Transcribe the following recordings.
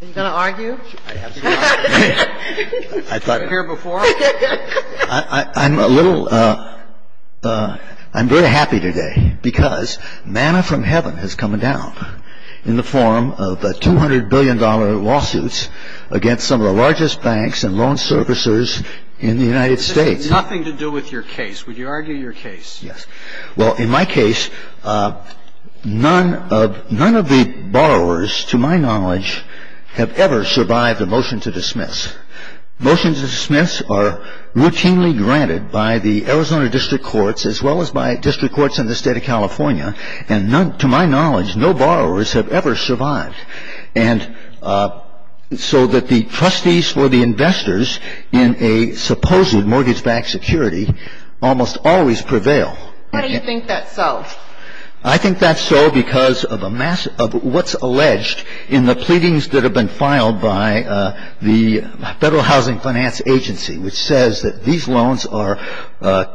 I'm very happy today because manna from heaven has come down in the form of the 200 billion dollar lawsuits against some of the largest banks and loan servicers in the United States. This has nothing to do with your case. Would you argue your case? Yes. Well, in my case, none of the borrowers, to my knowledge, have ever survived a motion to dismiss. Motions to dismiss are routinely granted by the Arizona District Courts as well as by district courts in the state of California. And to my knowledge, no borrowers have ever survived. And so that the trustees for the investors in a supposed mortgage-backed security almost always prevail. Why do you think that's so? I think that's so because of what's alleged in the pleadings that have been filed by the Federal Housing Finance Agency, which says that these loans are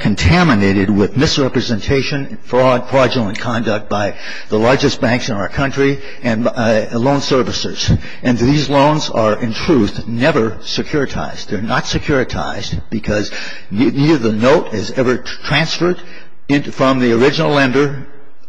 contaminated with misrepresentation, fraud, fraudulent conduct by the largest banks in our country, and loan servicers. And these loans are, in truth, never securitized. They're not securitized because neither the note is ever transferred from the original lender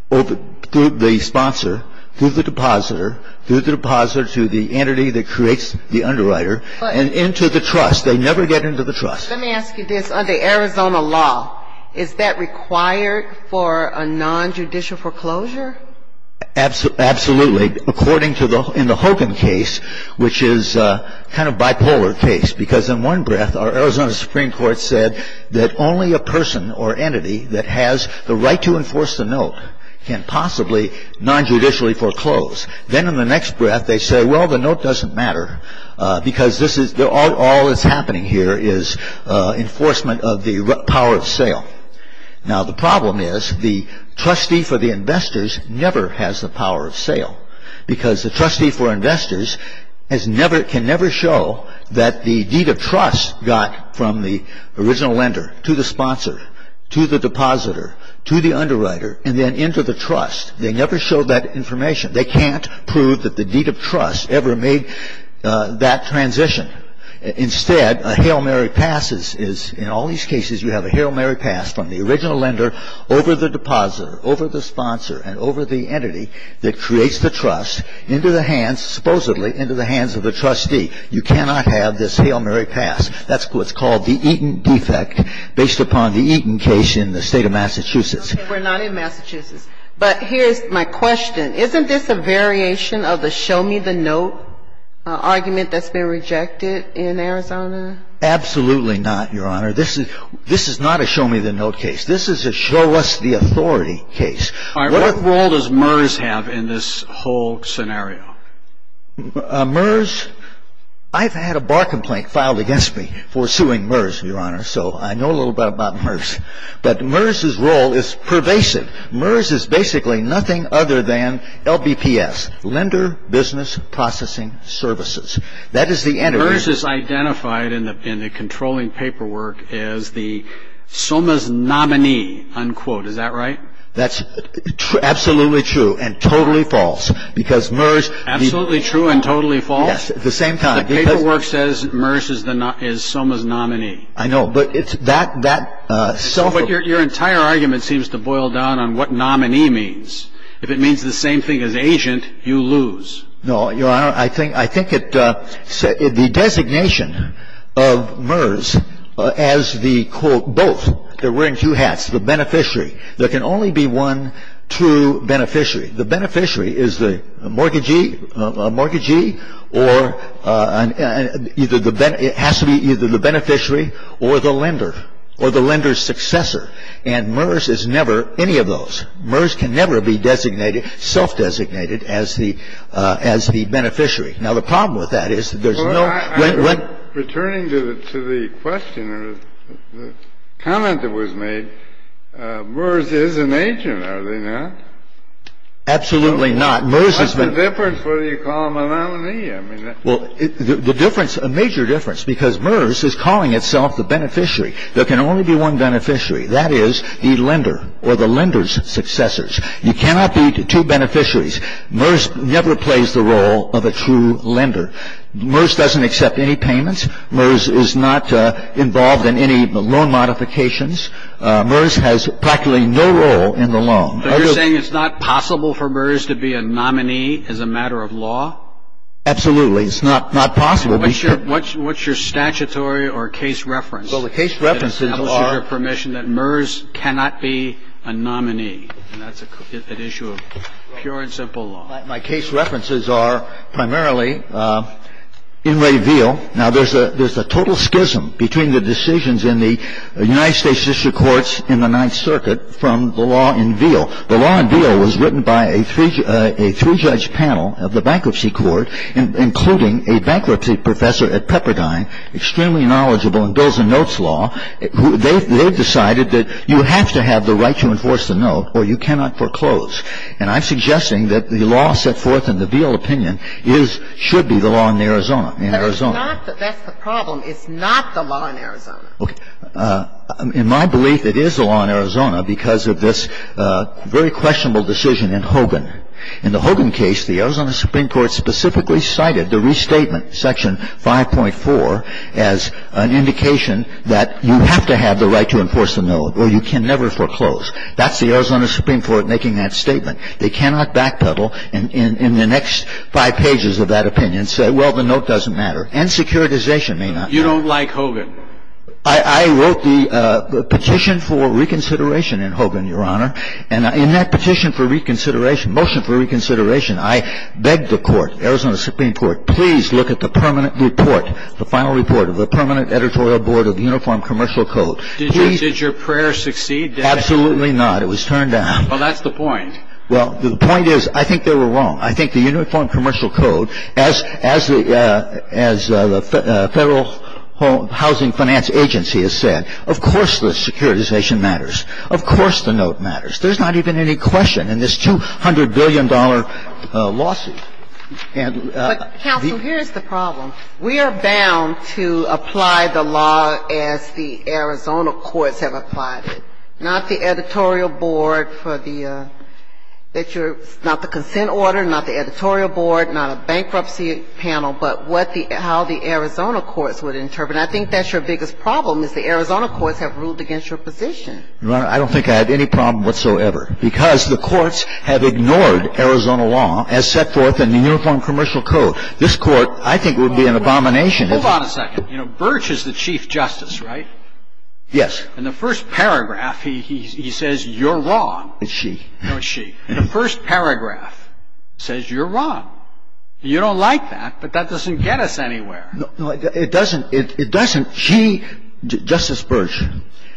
through the sponsor, through the depositor, through the depositor to the entity that creates the underwriter, and into the trust. They never get into the trust. Let me ask you this. Under Arizona law, is that required for a nonjudicial foreclosure? Absolutely. According to the Hogan case, which is a kind of bipolar case, because in one breath our Arizona Supreme Court said that only a person or entity that has the right to enforce the note can possibly nonjudicially foreclose. Then in the next breath they say, well, the note doesn't matter, because all that's happening here is enforcement of the power of sale. Now the problem is the trustee for the investors never has the power of sale, because the trustee for investors can never show that the deed of trust got from the original lender to the sponsor, to the depositor, to the underwriter, and then into the trust. They never show that information. They can't prove that the deed of trust ever made that transition. Instead, a Hail Mary pass is, in all these cases, you have a Hail Mary pass from the original lender over the depositor, over the sponsor, and over the entity that creates the trust into the hands, supposedly, into the hands of the trustee. You cannot have this Hail Mary pass. That's what's called the Eaton defect, based upon the Eaton case in the state of Massachusetts. Okay. We're not in Massachusetts. But here's my question. Isn't this a variation of the show me the note argument that's been rejected in Arizona? Absolutely not, Your Honor. This is not a show me the note case. This is a show us the authority case. All right. What role does MERS have in this whole scenario? MERS, I've had a bar complaint filed against me for suing MERS, Your Honor. So I know a little bit about MERS. But MERS's role is pervasive. MERS is basically nothing other than LBPS, Lender Business Processing Services. That is the entity. MERS is identified in the controlling paperwork as the SOMA's nominee, unquote. Is that right? That's absolutely true and totally false. Absolutely true and totally false? Yes, at the same time. The paperwork says MERS is SOMA's nominee. I know. But it's that self- But your entire argument seems to boil down on what nominee means. If it means the same thing as agent, you lose. No, Your Honor. I think it's the designation of MERS as the, quote, both. They're wearing two hats, the beneficiary. There can only be one true beneficiary. The beneficiary is the mortgagee or either the be- It has to be either the beneficiary or the lender or the lender's successor. And MERS is never any of those. MERS can never be designated, self-designated as the beneficiary. Now, the problem with that is that there's no- Returning to the question or the comment that was made, MERS is an agent, are they not? Absolutely not. What's the difference whether you call them a nominee? Well, the difference, a major difference, because MERS is calling itself the beneficiary. There can only be one beneficiary. That is the lender or the lender's successors. You cannot be two beneficiaries. MERS never plays the role of a true lender. MERS doesn't accept any payments. MERS is not involved in any loan modifications. MERS has practically no role in the loan. But you're saying it's not possible for MERS to be a nominee as a matter of law? Absolutely. It's not possible. What's your statutory or case reference? Well, the case references are- That establishes your permission that MERS cannot be a nominee. And that's an issue of pure and simple law. My case references are primarily in Reveal. Now, there's a total schism between the decisions in the United States District Courts in the Ninth Circuit from the law in Reveal. The law in Reveal was written by a three-judge panel of the Bankruptcy Court, including a bankruptcy professor at Pepperdine, extremely knowledgeable in bills and notes law. They decided that you have to have the right to enforce the note or you cannot foreclose. And I'm suggesting that the law set forth in the Reveal opinion should be the law in Arizona. That's the problem. It's not the law in Arizona. Okay. In my belief, it is the law in Arizona because of this very questionable decision in Hogan. In the Hogan case, the Arizona Supreme Court specifically cited the restatement, Section 5.4, as an indication that you have to have the right to enforce the note or you can never foreclose. That's the Arizona Supreme Court making that statement. They cannot backpedal in the next five pages of that opinion and say, well, the note doesn't matter. And securitization may not. You don't like Hogan. I wrote the petition for reconsideration in Hogan, Your Honor, and in that petition for reconsideration, motion for reconsideration, I begged the court, Arizona Supreme Court, please look at the permanent report, the final report of the Permanent Editorial Board of the Uniform Commercial Code. Did your prayer succeed? Absolutely not. It was turned down. Well, that's the point. Well, the point is, I think they were wrong. I think the Uniform Commercial Code, as the Federal Housing Finance Agency has said, of course the securitization matters. Of course the note matters. There's not even any question in this $200 billion lawsuit. Counsel, here's the problem. We are bound to apply the law as the Arizona courts have applied it. Not the editorial board for the – that you're – not the consent order, not the editorial board, not a bankruptcy panel, but what the – how the Arizona courts would interpret it. I think that's your biggest problem, is the Arizona courts have ruled against your position. Your Honor, I don't think I have any problem whatsoever. Because the courts have ignored Arizona law as set forth in the Uniform Commercial Code. This court, I think, would be an abomination. Hold on a second. You know, Birch is the Chief Justice, right? Yes. In the first paragraph, he says you're wrong. It's she. No, it's she. In the first paragraph, it says you're wrong. You don't like that, but that doesn't get us anywhere. No, it doesn't. It doesn't. She, Justice Birch,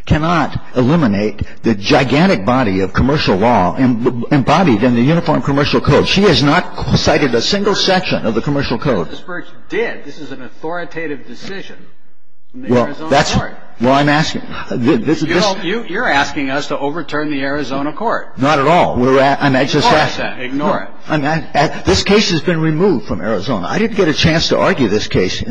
cannot eliminate the gigantic body of commercial law embodied in the Uniform Commercial Code. She has not cited a single section of the Commercial Code. Justice Birch did. This is an authoritative decision in the Arizona court. Well, that's – well, I'm asking – this is – You're asking us to overturn the Arizona court. Not at all. We're – I'm just asking. Ignore it then. Ignore it. This case has been removed from Arizona. I didn't get a chance to argue this case.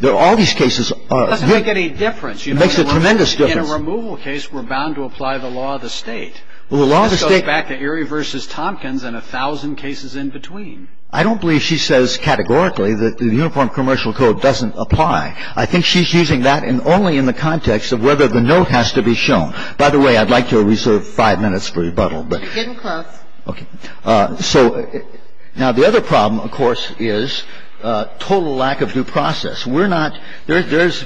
There are all these cases – It doesn't make any difference. It makes a tremendous difference. In a removal case, we're bound to apply the law of the state. Well, the law of the state – This goes back to Erie v. Tompkins and a thousand cases in between. I don't believe she says categorically that the Uniform Commercial Code doesn't apply. I think she's using that only in the context of whether the note has to be shown. By the way, I'd like to reserve five minutes for rebuttal. You're getting close. Okay. So now the other problem, of course, is total lack of due process. We're not – there's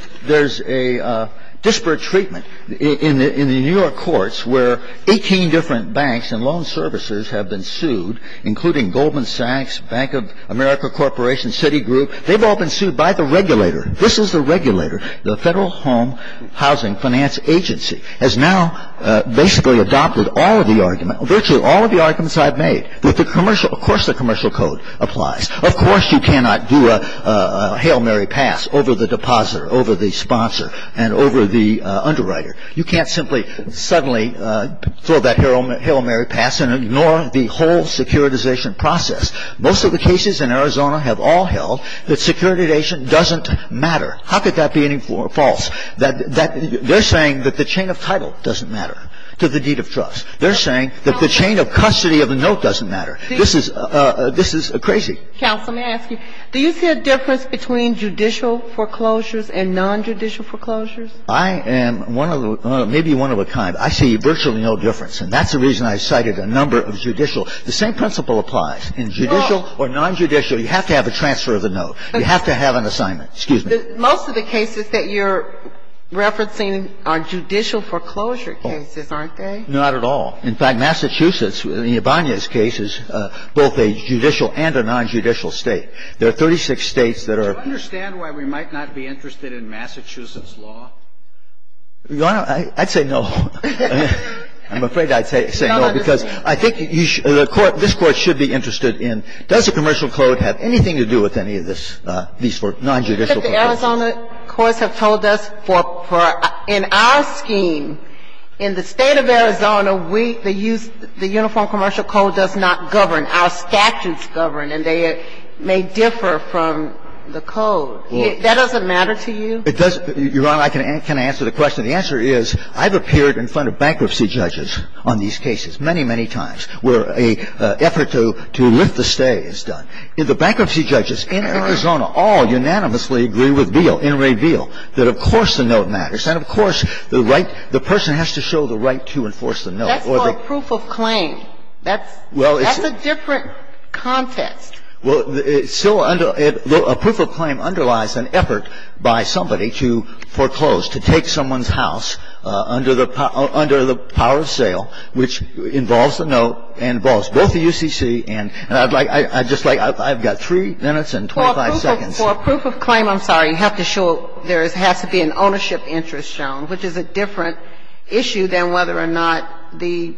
a disparate treatment in the New York courts where 18 different banks and loan services have been sued, including Goldman Sachs, Bank of America Corporation, Citigroup. They've all been sued by the regulator. This is the regulator. The Federal Home Housing Finance Agency has now basically adopted all of the argument, virtually all of the arguments I've made, that the commercial – of course the commercial code applies. Of course you cannot do a Hail Mary pass over the depositor, over the sponsor, and over the underwriter. You can't simply suddenly throw that Hail Mary pass and ignore the whole securitization process. Most of the cases in Arizona have all held that securitization doesn't matter. How could that be any more false? They're saying that the chain of title doesn't matter to the deed of trust. They're saying that the chain of custody of a note doesn't matter. This is – this is crazy. Counsel, may I ask you, do you see a difference between judicial foreclosures and nonjudicial foreclosures? I am one of the – maybe one of a kind. I see virtually no difference, and that's the reason I cited a number of judicial. The same principle applies. In judicial or nonjudicial, you have to have a transfer of the note. You have to have an assignment. Excuse me. Most of the cases that you're referencing are judicial foreclosure cases, aren't they? Not at all. In fact, Massachusetts, in Ibanez's case, is both a judicial and a nonjudicial State. There are 36 States that are – Do you understand why we might not be interested in Massachusetts law? Your Honor, I'd say no. I'm afraid I'd say no, because I think you should – this Court should be interested in does the commercial code have anything to do with any of this – these nonjudicial cases. But the Arizona courts have told us for – in our scheme, in the State of Arizona, we – the uniform commercial code does not govern. Our statutes govern, and they may differ from the code. That doesn't matter to you? It doesn't. Your Honor, I can answer the question. many, many, many times, where an effort to lift the stay is done, the bankruptcy judges in Arizona all unanimously agree with Beale, Inmate Beale, that, of course, the note matters. And, of course, the right – the person has to show the right to enforce the note. That's not proof of claim. That's a different context. Well, it's still – a proof of claim underlies an effort by somebody to foreclose, to take someone's house under the – under the power of sale, which involves the note, involves both the UCC and – and I'd like – I'd just like – I've got three minutes and 25 seconds. For a proof of claim, I'm sorry, you have to show – there has to be an ownership interest shown, which is a different issue than whether or not the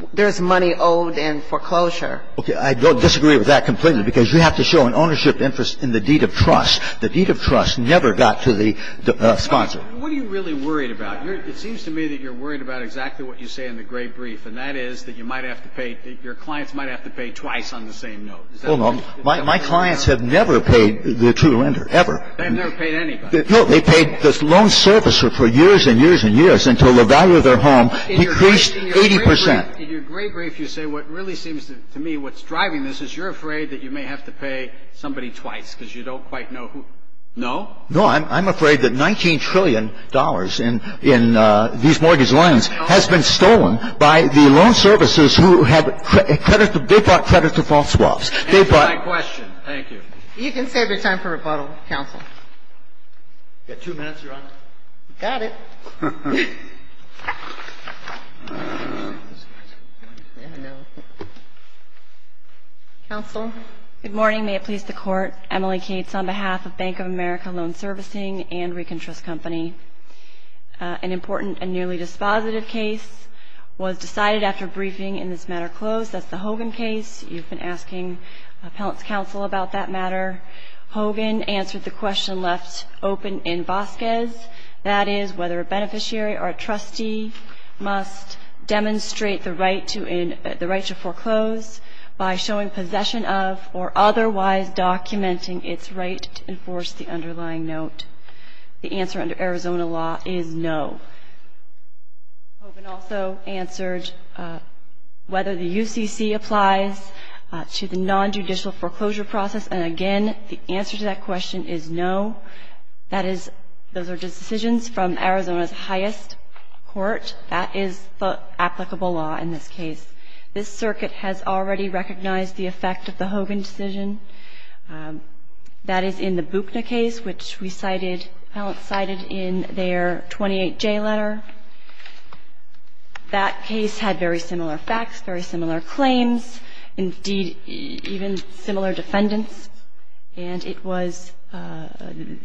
– there's money owed in foreclosure. Okay. I don't disagree with that completely, because you have to show an ownership interest in the deed of trust. The deed of trust never got to the sponsor. What are you really worried about? It seems to me that you're worried about exactly what you say in the gray brief, and that is that you might have to pay – that your clients might have to pay twice on the same note. Hold on. My clients have never paid the true lender, ever. They've never paid anybody. No. They paid the loan servicer for years and years and years until the value of their home decreased 80 percent. In your gray brief, you say what really seems to me what's driving this is you're afraid that you may have to pay somebody twice, because you don't quite know who – no? No. I'm afraid that $19 trillion in these mortgage loans has been stolen by the loan servicers who have credit – they bought credit to false swaps. Answer my question. Thank you. You can save your time for rebuttal, counsel. You've got two minutes, Your Honor. Got it. Counsel? Good morning. May it please the Court. Emily Cates on behalf of Bank of America Loan Servicing and ReconTrust Company. An important and nearly dispositive case was decided after briefing in this matter closed. That's the Hogan case. You've been asking appellant's counsel about that matter. Hogan answered the question left open in Vasquez, that is whether or not the loan servicing beneficiary or a trustee must demonstrate the right to foreclose by showing possession of or otherwise documenting its right to enforce the underlying note. The answer under Arizona law is no. Hogan also answered whether the UCC applies to the non-judicial foreclosure process, and again, the answer to that question is no. That is, those are just decisions from Arizona's highest court. That is the applicable law in this case. This circuit has already recognized the effect of the Hogan decision. That is in the Bukna case, which we cited, appellant cited in their 28J letter. That case had very similar facts, very similar claims, indeed, even similar defendants, and it was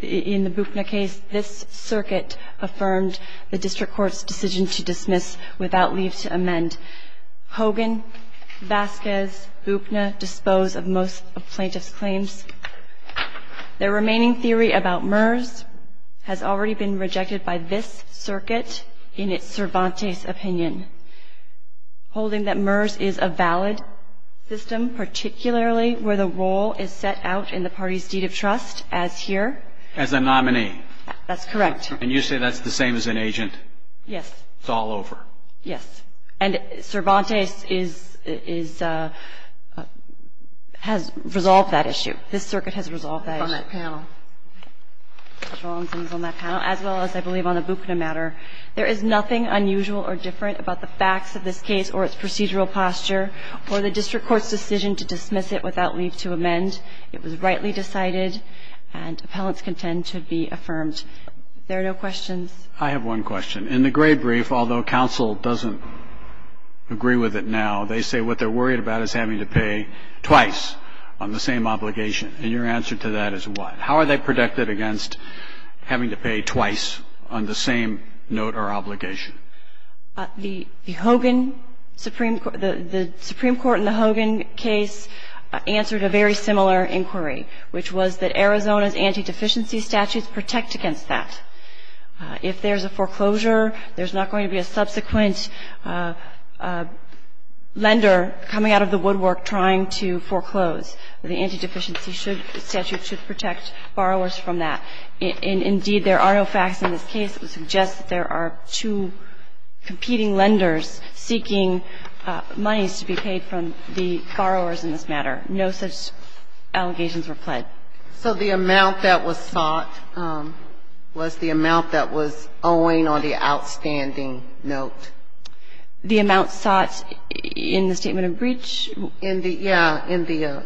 in the Bukna case this circuit affirmed the district court's decision to dismiss without leave to amend. Hogan, Vasquez, Bukna dispose of most of plaintiff's claims. Their remaining theory about MERS has already been rejected by this circuit in its Cervantes opinion, holding that MERS is a valid system, particularly where the role is set out in the party's deed of trust, as here. As a nominee. That's correct. And you say that's the same as an agent? Yes. It's all over. Yes. And Cervantes is, has resolved that issue. This circuit has resolved that issue. On that panel. Judge Rollins is on that panel, as well as, I believe, on the Bukna matter. There is nothing unusual or different about the facts of this case or its procedural posture, or the district court's decision to dismiss it without leave to amend. It was rightly decided, and appellants contend to be affirmed. If there are no questions. I have one question. In the gray brief, although counsel doesn't agree with it now, they say what they're worried about is having to pay twice on the same obligation. And your answer to that is what? How are they protected against having to pay twice on the same note or obligation? The Hogan Supreme Court, the Supreme Court in the Hogan case answered a very similar inquiry, which was that Arizona's anti-deficiency statutes protect against that. If there's a foreclosure, there's not going to be a subsequent lender coming out of the woodwork trying to foreclose. The anti-deficiency statute should protect borrowers from that. Indeed, there are no facts in this case that would suggest that there are two competing lenders seeking monies to be paid from the borrowers in this matter. No such allegations were pled. So the amount that was sought was the amount that was owing on the outstanding note? The amount sought in the statement of breach? In the, yeah, in the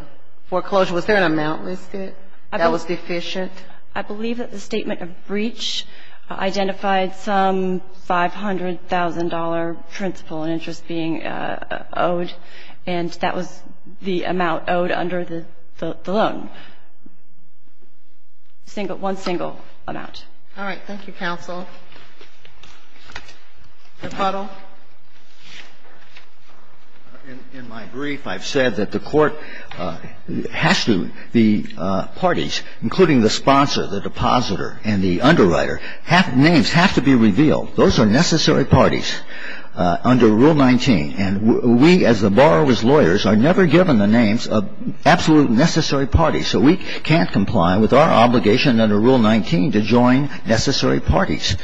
foreclosure. Was there an amount listed that was deficient? I believe that the statement of breach identified some $500,000 principal interest being owed, and that was the amount owed under the loan. One single amount. Thank you, counsel. Mr. Puddle. In my brief, I've said that the Court has to, the parties, including the sponsor, the depositor, and the underwriter, names have to be revealed. Those are necessary parties under Rule 19. And we, as the borrower's lawyers, are never given the names of absolute necessary parties. So we can't comply with our obligation under Rule 19 to join necessary parties.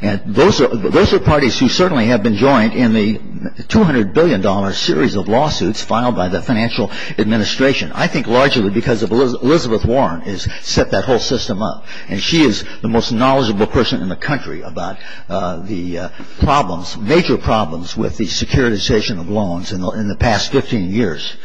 And those are parties who certainly have been joined in the $200 billion series of lawsuits filed by the financial administration. I think largely because of Elizabeth Warren has set that whole system up. And she is the most knowledgeable person in the country about the problems, major problems, with the securitization of loans in the past 15 years.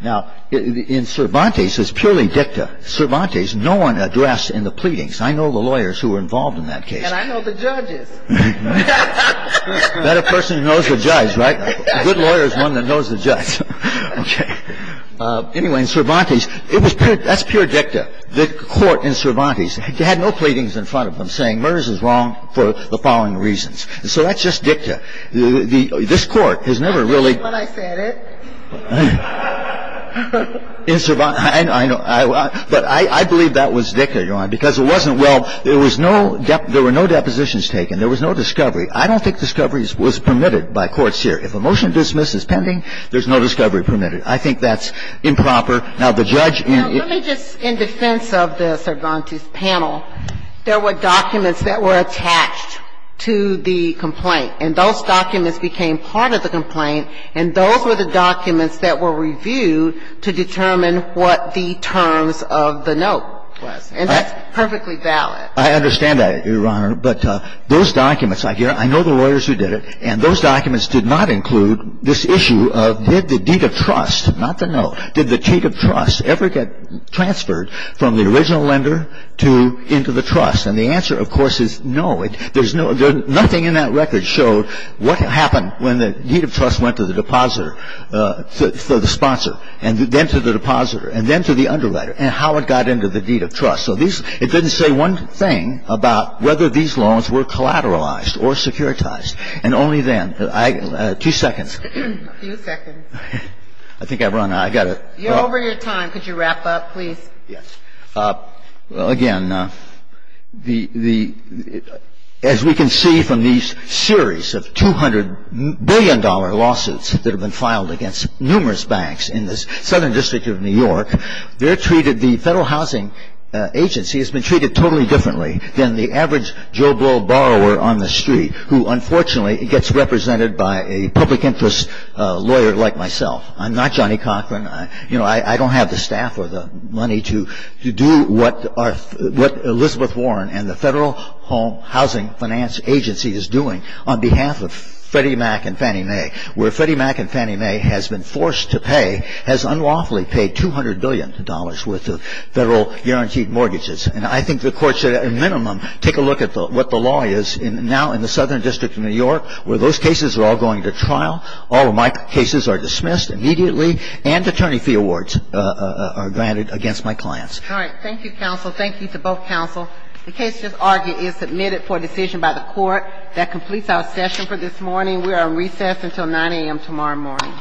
Now, in Cervantes, it's purely dicta. Cervantes, no one addressed in the pleadings. I know the lawyers who were involved in that case. And I know the judges. Better person who knows the judge, right? A good lawyer is one that knows the judge. Okay. Anyway, in Cervantes, it was pure, that's pure dicta. The Court in Cervantes had no pleadings in front of them saying, Murders is wrong for the following reasons. So that's just dicta. This Court has never really. That's what I said. In Cervantes, I know. But I believe that was dicta, Your Honor, because it wasn't, well, there was no, there were no depositions taken. There was no discovery. I don't think discovery was permitted by court here. If a motion to dismiss is pending, there's no discovery permitted. I think that's improper. Now, the judge in. Now, let me just, in defense of the Cervantes panel, there were documents that were attached to the complaint. And those documents became part of the complaint. And those were the documents that were reviewed to determine what the terms of the note was. And that's perfectly valid. I understand that, Your Honor. But those documents, I hear. I know the lawyers who did it. And those documents did not include this issue of did the deed of trust, not the note, did the deed of trust ever get transferred from the original lender to, into the trust? And the answer, of course, is no. There's no, nothing in that record showed what happened when the deed of trust went to the depositor, the sponsor, and then to the depositor, and then to the underwriter, and how it got into the deed of trust. So these, it doesn't say one thing about whether these loans were collateralized or securitized. And only then. Two seconds. A few seconds. I think I've run out. I've got to. You're over your time. Could you wrap up, please? Yes. Well, again, the, as we can see from these series of $200 billion lawsuits that have been filed against numerous banks in the Southern District of New York, they're totally differently than the average Joe Bull borrower on the street who, unfortunately, gets represented by a public interest lawyer like myself. I'm not Johnny Cochran. You know, I don't have the staff or the money to do what Elizabeth Warren and the Federal Home Housing Finance Agency is doing on behalf of Freddie Mac and Fannie Mae, where Freddie Mac and Fannie Mae has been forced to pay, has unlawfully paid $200 billion worth of federal guaranteed mortgages. And I think the Court should, at a minimum, take a look at what the law is now in the Southern District of New York, where those cases are all going to trial. All of my cases are dismissed immediately. And attorney fee awards are granted against my clients. All right. Thank you, counsel. Thank you to both counsel. The case just argued is submitted for decision by the Court. That completes our session for this morning. We are on recess until 9 a.m. tomorrow morning.